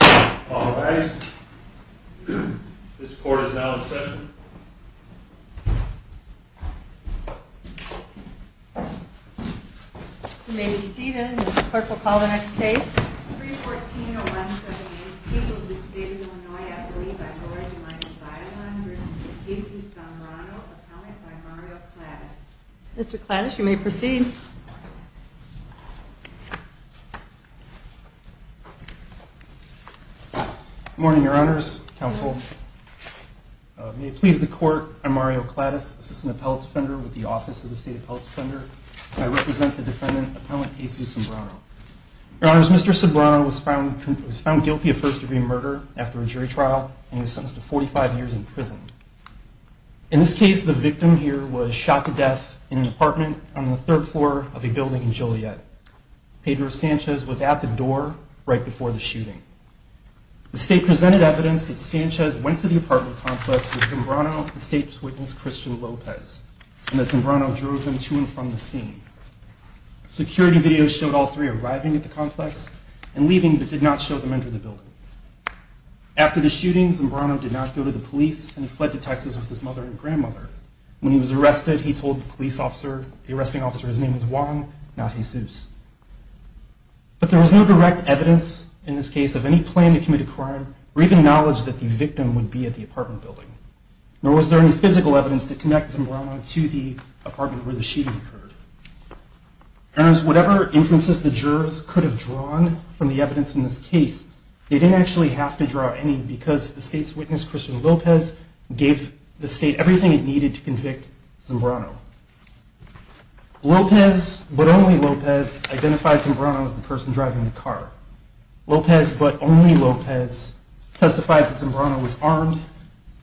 All rise. This court is now in session. You may be seated. The clerk will call the next case. 314-0178, people of the state of Illinois, I believe, by the order of Your Honor, Byron v. Casey Zambrano, appellant by Mario Kladdis. Mr. Kladdis, you may proceed. Good morning, Your Honors, counsel. May it please the court, I'm Mario Kladdis, Assistant Appellate Defender with the Office of the State Appellate Defender. I represent the defendant, Appellant Casey Zambrano. Your Honors, Mr. Zambrano was found guilty of first-degree murder after a jury trial, and he was sentenced to 45 years in prison. In this case, the victim here was shot to death in an apartment on the third floor of a building in Joliet. Pedro Sanchez was at the door right before the shooting. The state presented evidence that Sanchez went to the apartment complex with Zambrano and state witness Christian Lopez, and that Zambrano drove them to and from the scene. Security videos showed all three arriving at the complex and leaving, but did not show them enter the building. After the shootings, Zambrano did not go to the police and fled to Texas with his mother and grandmother. When he was arrested, he told the police officer, the arresting officer's name was Juan, not Jesus. But there was no direct evidence in this case of any plan to commit a crime, or even knowledge that the victim would be at the apartment building. Nor was there any physical evidence to connect Zambrano to the apartment where the shooting occurred. As whatever inferences the jurors could have drawn from the evidence in this case, they didn't actually have to draw any, because the state's witness, Christian Lopez, gave the state everything it needed to convict Zambrano. Lopez, but only Lopez, identified Zambrano as the person driving the car. Lopez, but only Lopez, testified that Zambrano was armed,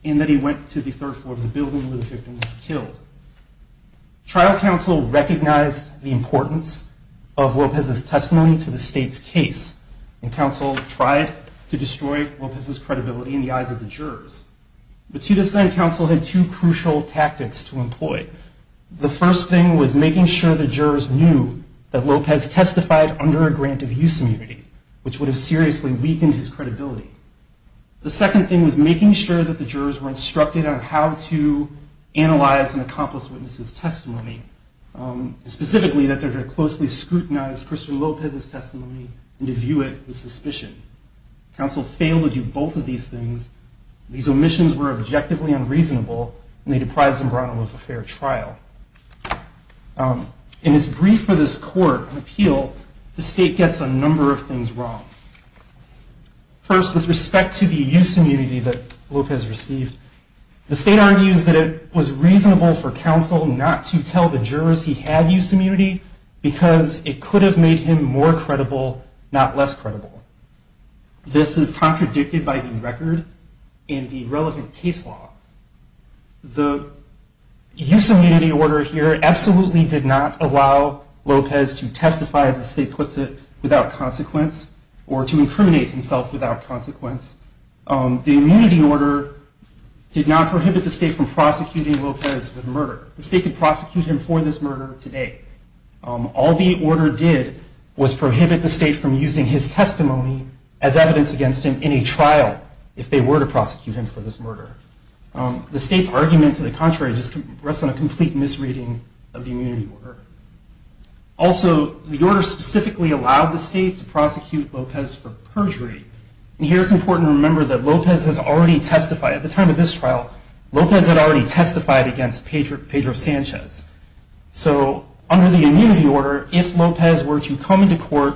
and that he went to the third floor of the building where the victim was killed. Trial counsel recognized the importance of Lopez's testimony to the state's case, and counsel tried to destroy Lopez's credibility in the eyes of the jurors. But to this end, counsel had two crucial tactics to employ. The first thing was making sure the jurors knew that Lopez testified under a grant of use immunity, which would have seriously weakened his credibility. The second thing was making sure that the jurors were instructed on how to analyze and accomplish Lopez's testimony, specifically that they were to closely scrutinize Christian Lopez's testimony and to view it with suspicion. Counsel failed to do both of these things. These omissions were objectively unreasonable, and they deprived Zambrano of a fair trial. In his brief for this court, an appeal, the state gets a number of things wrong. First, with respect to the use immunity that Lopez received, the state argues that it was reasonable for counsel not to tell the jurors he had use immunity because it could have made him more credible, not less credible. This is contradicted by the record and the relevant case law. The use immunity order here absolutely did not allow Lopez to testify, as the state puts it, without consequence or to incriminate himself without consequence. The immunity order did not prohibit the state from prosecuting Lopez with murder. The state could prosecute him for this murder today. All the order did was prohibit the state from using his testimony as evidence against him in a trial if they were to prosecute him for this murder. The state's argument to the contrary just rests on a complete misreading of the immunity order. Also, the order specifically allowed the state to prosecute Lopez for perjury. And here it's important to remember that Lopez has already testified. At the time of this trial, Lopez had already testified against Pedro Sanchez. So under the immunity order, if Lopez were to come into court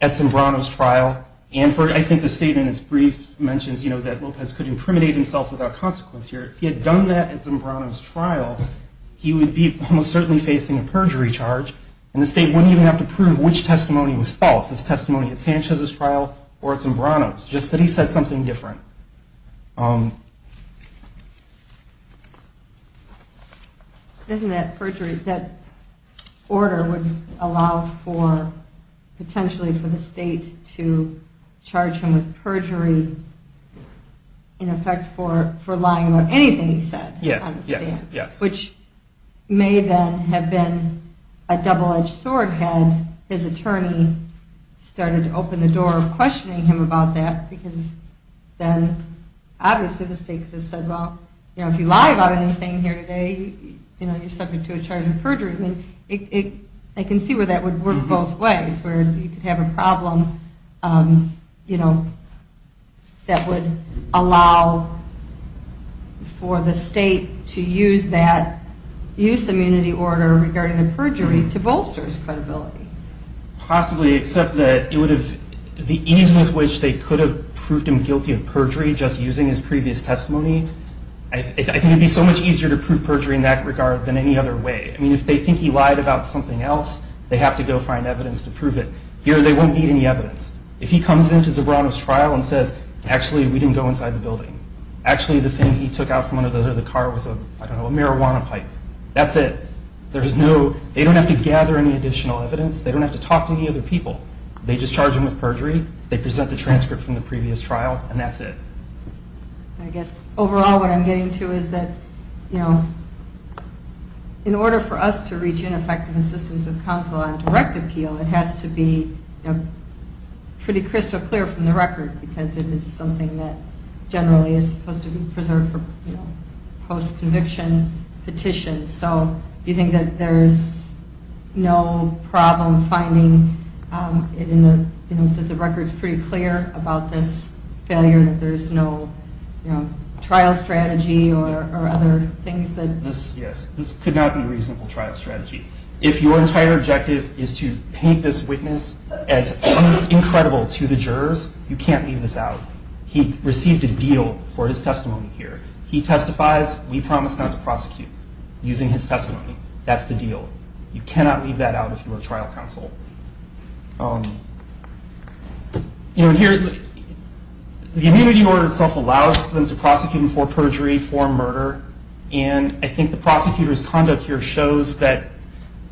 at Zambrano's trial, and I think the state in its brief mentions that Lopez could incriminate himself without consequence here, if he had done that at Zambrano's trial, he would be almost certainly facing a perjury charge, and the state wouldn't even have to prove which testimony was false, his testimony at Sanchez's trial or at Zambrano's, just that he said something different. Isn't that perjury, that order would allow for, potentially for the state to charge him with perjury, in effect for lying about anything he said on the stand, which may then have been a double-edged sword had his attorney started to open the door questioning him about that, because then obviously the state could have said, well, if you lie about anything here today, you're subject to a charge of perjury. I can see where that would work both ways, where you could have a problem that would allow for the state to use that use immunity order regarding the perjury to bolster his credibility. Possibly, except that the ease with which they could have proved him guilty of perjury just using his previous testimony, I think it would be so much easier to prove perjury in that regard than any other way. I mean, if they think he lied about something else, they have to go find evidence to prove it. Here, they wouldn't need any evidence. If he comes into Zambrano's trial and says, actually, we didn't go inside the building, actually, the thing he took out from under the car was a marijuana pipe, that's it. They don't have to gather any additional evidence. They don't have to talk to any other people. They just charge him with perjury. They present the transcript from the previous trial, and that's it. I guess overall what I'm getting to is that in order for us to reach ineffective assistance of counsel on direct appeal, it has to be pretty crystal clear from the record, because it is something that generally is supposed to be preserved for post-conviction petitions. So do you think that there's no problem finding that the record's pretty clear about this failure, that there's no trial strategy or other things? Yes. This could not be a reasonable trial strategy. If your entire objective is to paint this witness as incredible to the jurors, you can't leave this out. He received a deal for his testimony here. He testifies. We promise not to prosecute using his testimony. That's the deal. You cannot leave that out if you're a trial counsel. The immunity order itself allows them to prosecute him for perjury, for murder, and I think the prosecutor's conduct here shows that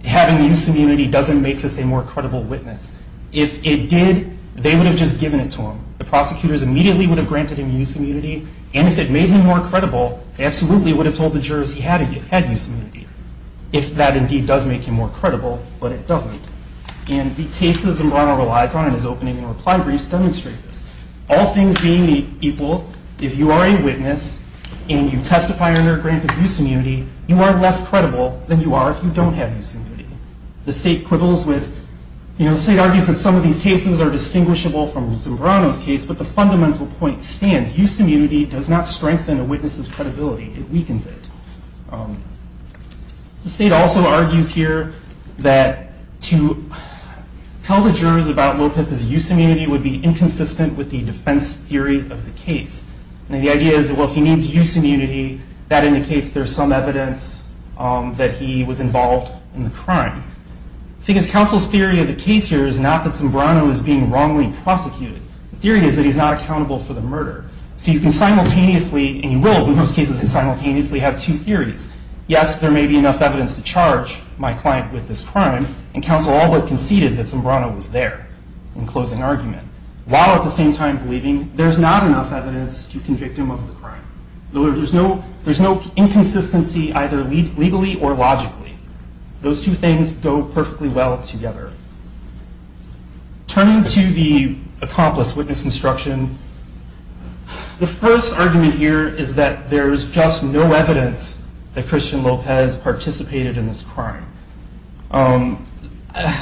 having use immunity doesn't make this a more credible witness. If it did, they would have just given it to him. The prosecutors immediately would have granted him use immunity, and if it made him more credible, they absolutely would have told the jurors he had use immunity, if that indeed does make him more credible, but it doesn't. And the cases Zimbrano relies on in his opening and reply briefs demonstrate this. All things being equal, if you are a witness and you testify under a grant of use immunity, you are less credible than you are if you don't have use immunity. The state quibbles with, you know, the state argues that some of these cases are distinguishable from Zimbrano's case, but the fundamental point stands. Use immunity does not strengthen a witness's credibility. It weakens it. The state also argues here that to tell the jurors about Lopez's use immunity would be inconsistent with the defense theory of the case. And the idea is, well, if he needs use immunity, that indicates there's some evidence that he was involved in the crime. I think his counsel's theory of the case here is not that Zimbrano is being wrongly prosecuted. The theory is that he's not accountable for the murder. So you can simultaneously, and you will in most cases simultaneously, have two theories. Yes, there may be enough evidence to charge my client with this crime, and counsel all but conceded that Zimbrano was there in closing argument, while at the same time believing there's not enough evidence to convict him of the crime. There's no inconsistency either legally or logically. Those two things go perfectly well together. Turning to the accomplice witness instruction, the first argument here is that there's just no evidence that Christian Lopez participated in this crime.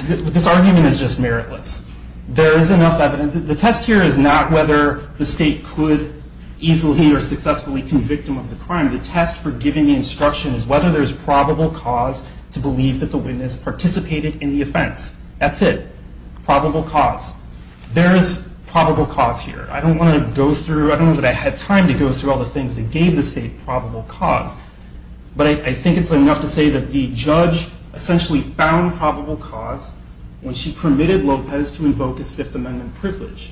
This argument is just meritless. There is enough evidence. The test here is not whether the state could easily or successfully convict him of the crime. The test for giving the instruction is whether there's probable cause to believe that the witness participated in the offense. That's it. Probable cause. There is probable cause here. I don't want to go through, I don't know that I have time to go through all the things that gave the state probable cause, but I think it's enough to say that the judge essentially found probable cause when she permitted Lopez to invoke his Fifth Amendment privilege.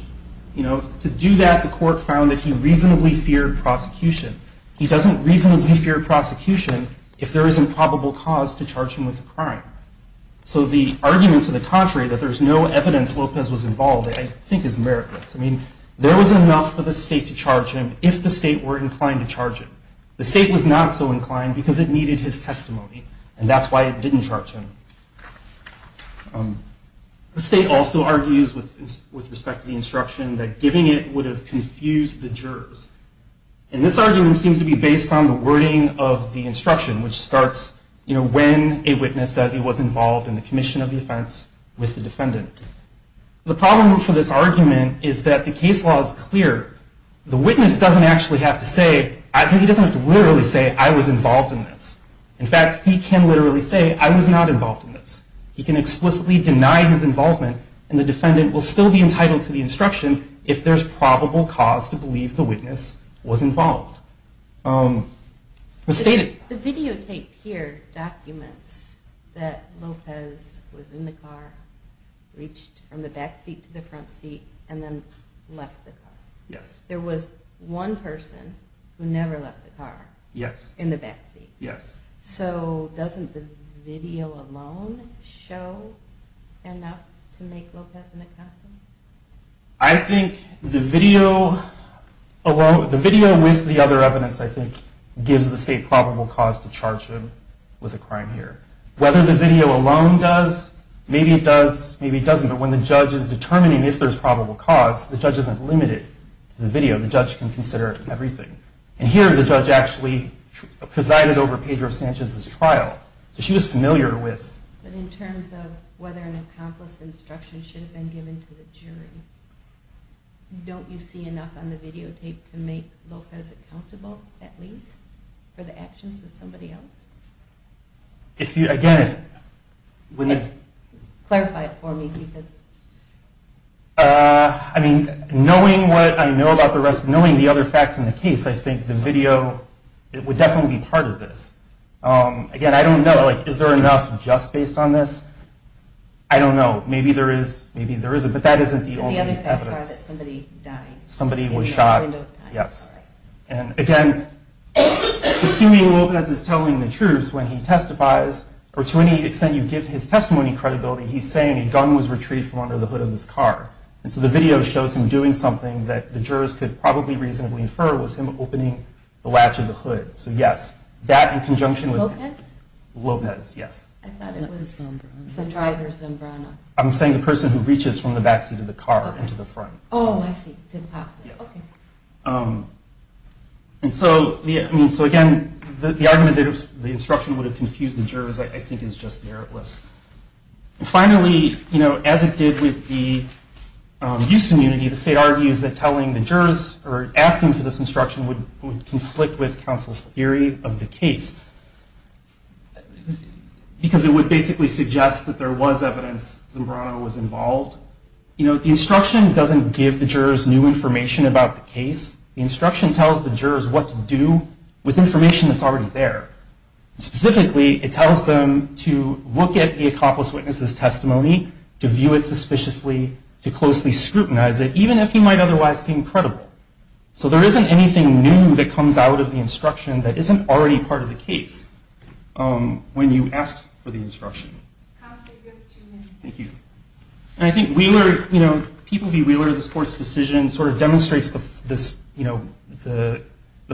To do that, the court found that he reasonably feared prosecution. He doesn't reasonably fear prosecution if there is a probable cause to charge him with a crime. So the argument to the contrary, that there's no evidence Lopez was involved, I think is meritless. I mean, there was enough for the state to charge him if the state were inclined to charge him. The state was not so inclined because it needed his testimony, and that's why it didn't charge him. The state also argues with respect to the instruction that giving it would have confused the jurors. And this argument seems to be based on the wording of the instruction, which starts when a witness says he was involved in the commission of the offense with the defendant. The problem for this argument is that the case law is clear. The witness doesn't actually have to say, I think he doesn't have to literally say, I was involved in this. In fact, he can literally say, I was not involved in this. He can explicitly deny his involvement, and the defendant will still be entitled to the instruction if there's probable cause to believe the witness was involved. The videotape here documents that Lopez was in the car, reached from the back seat to the front seat, and then left the car. Yes. There was one person who never left the car. Yes. In the back seat. Yes. So doesn't the video alone show enough to make Lopez an accomplice? I think the video with the other evidence, I think, gives the state probable cause to charge him with a crime here. Whether the video alone does, maybe it does, maybe it doesn't, but when the judge is determining if there's probable cause, the judge isn't limited to the video. The judge can consider everything. And here, the judge actually presided over Pedro Sanchez's trial. So she was familiar with... But in terms of whether an accomplice's instruction should have been given to the jury, don't you see enough on the videotape to make Lopez accountable, at least, for the actions of somebody else? If you, again, if... Clarify it for me, because... I mean, knowing what I know about the arrest, knowing the other facts in the case, I think the video, it would definitely be part of this. Again, I don't know. Like, is there enough just based on this? I don't know. Maybe there is. Maybe there isn't. But that isn't the only evidence. But the other facts are that somebody died. Somebody was shot. Yes. And, again, assuming Lopez is telling the truth when he testifies, or to any extent you give his testimony credibility, he's saying a gun was retrieved from under the hood of his car. And so the video shows him doing something that the jurors could probably reasonably infer was him opening the latch of the hood. So, yes. That, in conjunction with... Lopez? Lopez, yes. I thought it was the driver's umbrella. I'm saying the person who reaches from the backseat of the car into the front. Oh, I see. To the cockpit. Yes. Okay. And so, I mean, so, again, the argument that the instruction would have confused the jurors, I think, is just meritless. Finally, as it did with the use immunity, the state argues that telling the jurors, or asking for this instruction, would conflict with counsel's theory of the case. Because it would basically suggest that there was evidence Zimbrano was involved. The instruction doesn't give the jurors new information about the case. The instruction tells the jurors what to do with information that's already there. Specifically, it tells them to look at the accomplice witness' testimony, to view it suspiciously, to closely scrutinize it, even if you might otherwise seem credible. So, there isn't anything new that comes out of the instruction that isn't already part of the case when you ask for the instruction. Counsel, you have two minutes. Thank you. And I think Wheeler, you know, Peabody Wheeler, this court's decision, sort of demonstrates this, you know, the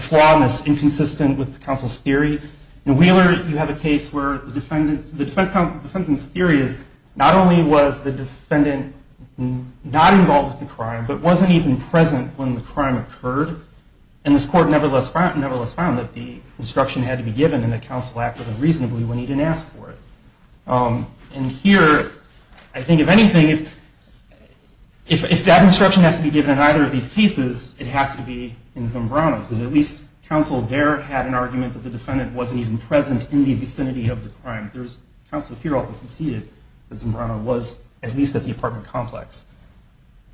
flawness inconsistent with the counsel's theory. In Wheeler, you have a case where the defendant's, the defense counsel's theory is, not only was the defendant not involved in the crime, but wasn't even present when the crime occurred. And this court, nevertheless, found that the instruction had to be given, and that counsel acted reasonably when he didn't ask for it. And here, I think, if anything, if that instruction has to be given in either of these cases, it has to be in Zimbrano's, because at least counsel there had an argument that the defendant wasn't even present in the vicinity of the crime. There's counsel here who conceded that Zimbrano was at least at the apartment complex.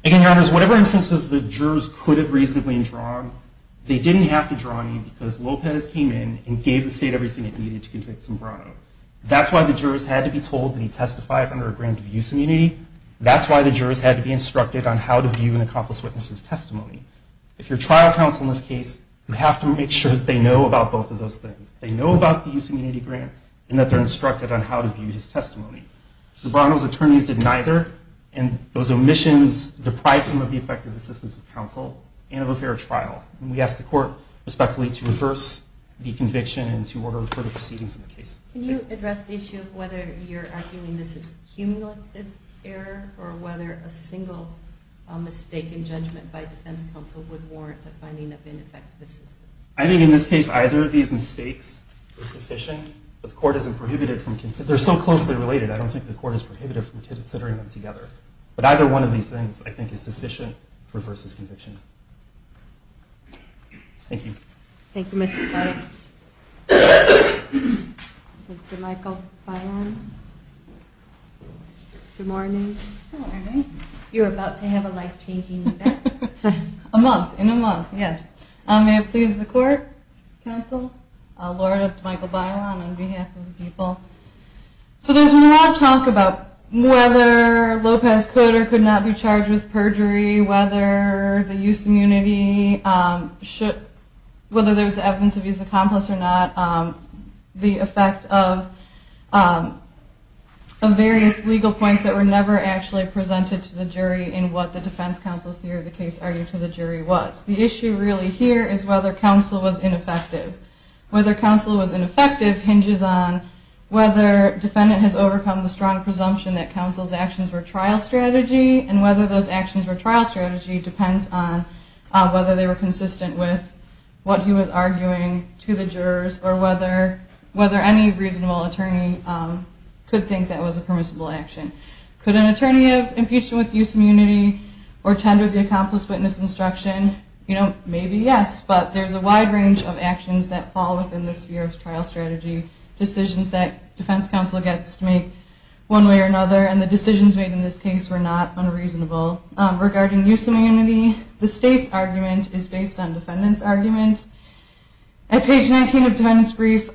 Again, your honors, whatever inferences the jurors could have reasonably drawn, they didn't have to draw any, because Lopez came in and gave the state everything it needed to convict Zimbrano. That's why the jurors had to be told that he testified under a grant of use immunity. That's why the jurors had to be instructed on how to view an accomplice witness' testimony. If you're trial counsel in this case, you have to make sure that they know about both of those things. They know about the use immunity grant, and that they're instructed on how to view his testimony. Zimbrano's attorneys did neither, and those omissions deprived him of the effective assistance of counsel and of a fair trial. And we ask the court, respectfully, to reverse the conviction and to order further proceedings in the case. Can you address the issue of whether you're arguing this is cumulative error, or whether a single mistake in judgment by defense counsel would warrant a finding of ineffective assistance? I think in this case, either of these mistakes is sufficient, but the court isn't prohibited from considering them. They're so closely related, I don't think the court is prohibited from considering them together. But either one of these things, I think, is sufficient to reverse this conviction. Thank you. Thank you, Mr. Carter. Mr. Michael Byron. Good morning. You're about to have a life-changing event. A month, in a month, yes. May it please the court, counsel, Lord of Michael Byron, on behalf of the people. So there's more talk about whether Lopez could or could not be charged with perjury, whether the use immunity should, whether there's evidence of use accomplice or not, the effect of various legal points that were never actually presented to the jury in what the defense counsel's theory of the case argued to the jury was. The issue really here is whether counsel was ineffective. Whether counsel was ineffective hinges on whether defendant has overcome the strong presumption that counsel's actions were trial strategy, and whether those actions were trial strategy depends on whether they were consistent with what he was arguing to the jurors, or whether any reasonable attorney could think that was a permissible action. Could an attorney have impeached him with use immunity or tendered the accomplice witness instruction? You know, maybe yes, but there's a wide range of actions that fall within the sphere of trial strategy, decisions that defense counsel gets to make one way or another, and the decisions made in this case were not unreasonable. Regarding use immunity, the state's argument is based on defendant's argument. At page 19 of defendant's brief,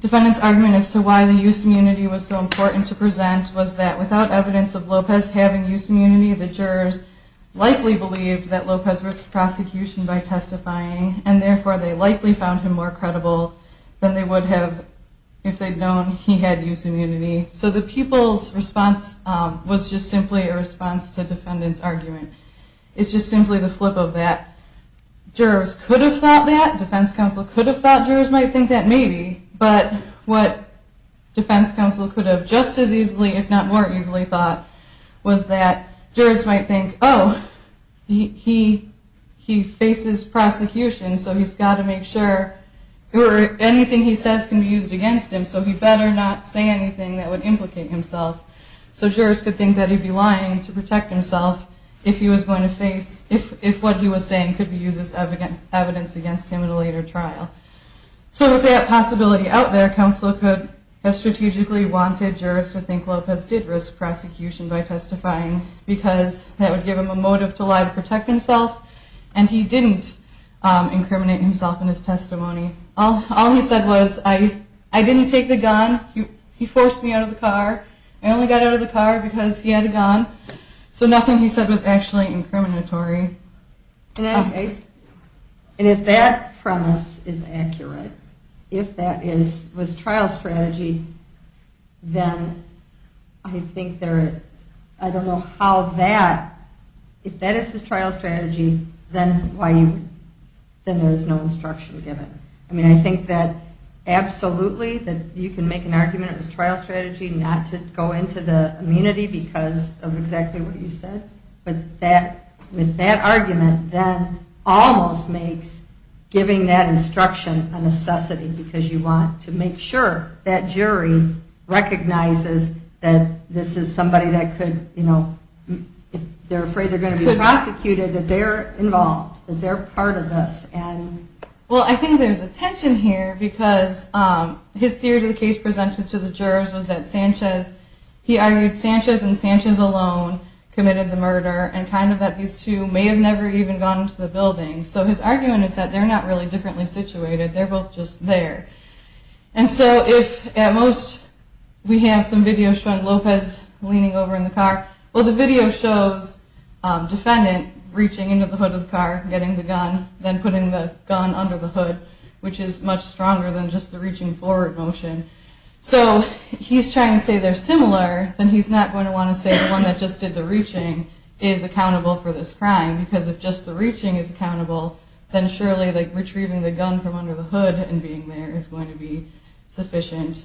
defendant's argument as to why the use immunity was so important to present was that without evidence of Lopez having use immunity, the jurors likely believed that Lopez risked prosecution by testifying, and therefore they likely found him more credible than they would have if they'd known he had use immunity. So the people's response was just simply a response to defendant's argument. It's just simply the flip of that. Jurors could have thought that. Defense counsel could have thought jurors might think that. Maybe. But what defense counsel could have just as easily, if not more easily thought, was that jurors might think, oh, he faces prosecution, so he's got to make sure anything he says can be used against him, so he better not say anything that would implicate himself. So jurors could think that he'd be lying to protect himself if he was going to face, if what he was saying could be used as evidence against him at a later trial. So with that possibility out there, counsel could have strategically wanted jurors to think Lopez did risk prosecution by testifying because that would give him a motive to lie to protect himself, and he didn't incriminate himself in his testimony. All he said was, I didn't take the gun, he forced me out of the car. I only got out of the car because he had a gun. So nothing he said was actually incriminatory. And if that premise is accurate, if that was trial strategy, then I think there are, I don't know how that, if that is his trial strategy, then there is no instruction given. I mean, I think that absolutely that you can make an argument with trial strategy not to go into the immunity because of exactly what you said, but that argument then almost makes giving that instruction a necessity because you want to make sure that jury recognizes that this is somebody that could, you know, they're afraid they're going to be prosecuted, that they're involved, that they're part of this. Well, I think there's a tension here because his theory of the case presented to the jurors was that Sanchez, he argued Sanchez and Sanchez alone committed the murder, and kind of that these two may have never even gone into the building. So his argument is that they're not really differently situated. They're both just there. And so if at most we have some video showing Lopez leaning over in the car, well, the video shows defendant reaching into the hood of the car, getting the gun, then putting the gun under the hood, which is much stronger than just the reaching forward motion. So he's trying to say they're similar, then he's not going to want to say the one that just did the reaching is accountable for this crime because if just the reaching is accountable, then surely retrieving the gun from under the hood and being there is going to be sufficient.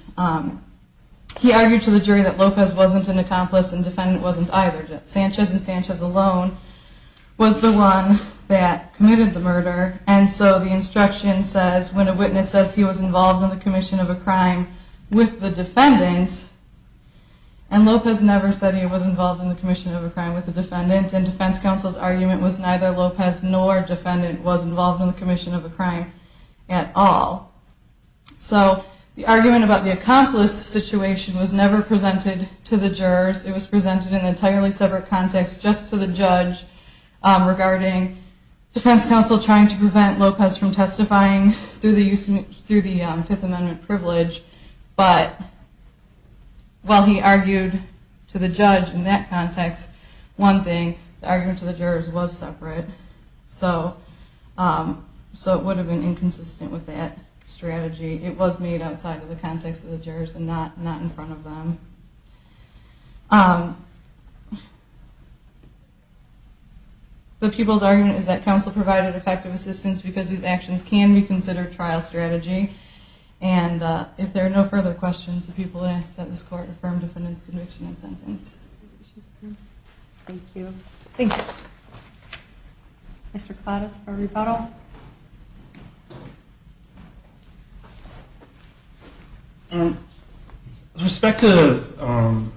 He argued to the jury that Lopez wasn't an accomplice, and defendant wasn't either. Sanchez and Sanchez alone was the one that committed the murder, and so the instruction says when a witness says he was involved in the commission of a crime with the defendant, and Lopez never said he was involved in the commission of a crime with a defendant, and defense counsel's argument was neither Lopez nor defendant was involved in the commission of a crime at all. So it's a separate context just to the judge regarding defense counsel trying to prevent Lopez from testifying through the Fifth Amendment privilege, but while he argued to the judge in that context, one thing, the argument to the jurors was separate, so it would have been inconsistent with that strategy. It was made outside of the context of the jurors and not in front of them. The people's argument is that counsel provided effective assistance because these actions can be considered trial strategy, and if there are no further questions, the people ask that this court affirm defendant's conviction and sentence. Thank you. Thank you. Mr. Clattis for rebuttal. With respect to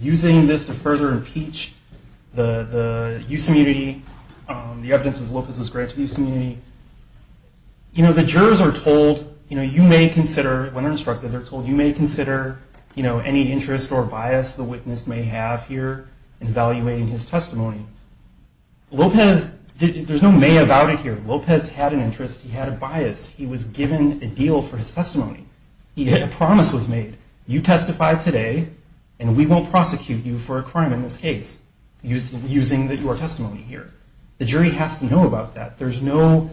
using this to further impeach the youth community, the evidence of Lopez's grudge against the youth community, you know, the jurors are told, you know, you may consider, when they're instructed, they're told you may consider, you know, any interest or bias the witness may have here in evaluating his testimony. Lopez, there's no may about it here. Lopez had an interest. He had a bias. He was given a deal for his testimony. A promise was made. You testify today, and we won't prosecute you for a crime in this case, using your testimony here. The jury has to know about that. There's no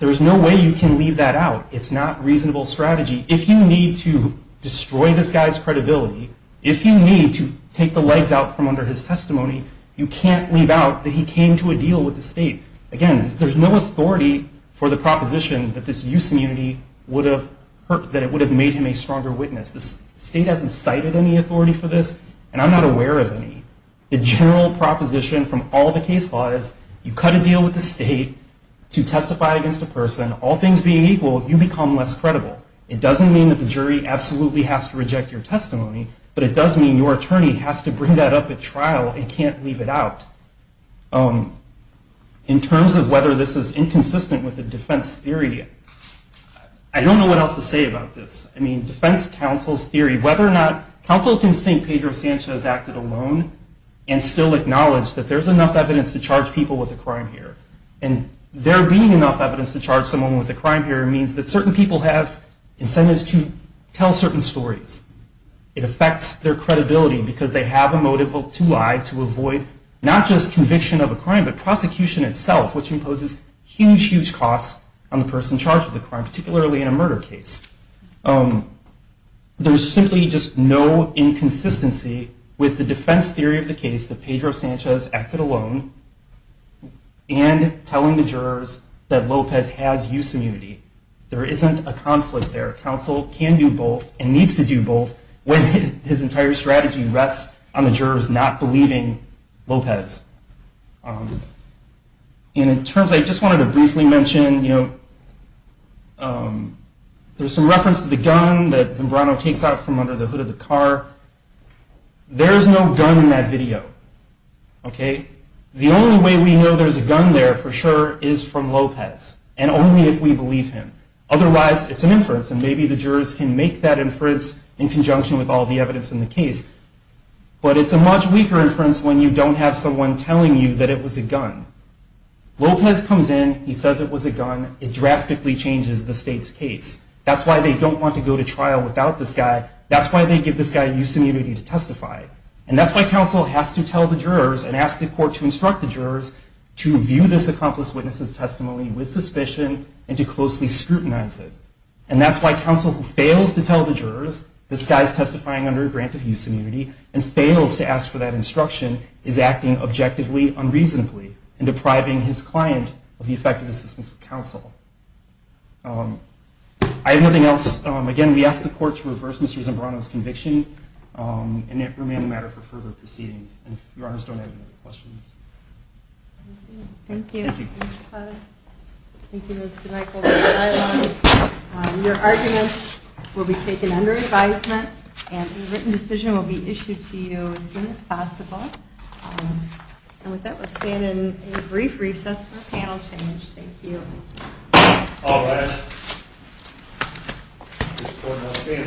way you can leave that out. It's not reasonable strategy. If you need to destroy this guy's credibility, if you need to take the legs out from under his testimony, you can't leave out that he came to a deal with the state. Again, there's no authority for the proposition that this youth community would have made him a stronger witness. The state hasn't cited any authority for this, and I'm not aware of any. The general proposition from all the case law is you cut a deal with the state to testify against a person. All things being equal, you become less credible. It doesn't mean that the jury absolutely has to reject your testimony, but it does mean your attorney has to bring that up at trial and can't leave it out. In terms of whether this is inconsistent with the defense theory, I don't know what else to say about this. I mean, defense counsel's theory, whether or not counsel can think Pedro Sanchez acted alone and still acknowledge that there's enough evidence to charge people with a crime here, and there being enough evidence to charge someone with a crime here means that certain people have incentives to tell certain stories. It affects their credibility because they have a motive to lie to avoid not just conviction of a crime, but prosecution itself, which imposes huge, huge costs on the person charged with the crime, particularly in a murder case. There's simply just no inconsistency with the defense theory of the case that Pedro Sanchez acted alone and telling the jurors that Lopez has use immunity. There isn't a conflict there. Counsel can do both and needs to do both when his entire strategy rests on the jurors not believing Lopez. And in terms, I just wanted to briefly mention, you know, there's some reference to the gun that Zambrano takes out from under the hood of the car. There is no gun in that video, okay? The only way we know there's a gun there for sure is from Lopez, and only if we believe him. Otherwise, it's an inference, and maybe the jurors can make that inference in conjunction with all the evidence in the case. But it's a much weaker inference when you don't have someone telling you that it was a gun. Lopez comes in. He says it was a gun. It drastically changes the state's case. That's why they don't want to go to trial without this guy. That's why they give this guy use immunity to testify. And that's why counsel has to tell the jurors and ask the court to instruct the jurors to view this accomplice witness' testimony with suspicion and to closely scrutinize it. And that's why counsel who fails to tell the jurors this guy is testifying under a grant of use immunity and fails to ask for that instruction is acting objectively unreasonably and depriving his client of the effective assistance of counsel. I have nothing else. Again, we ask the court to reverse Mr. Zambrano's conviction, and it remains a matter for further proceedings. If you're honest, I don't have any other questions. Thank you, Mr. Paz. Thank you, Mr. Michael. Your arguments will be taken under advisement, and a written decision will be issued to you as soon as possible. And with that, we'll stand in a brief recess for panel change. Thank you. All rise. We'll stand in a brief recess.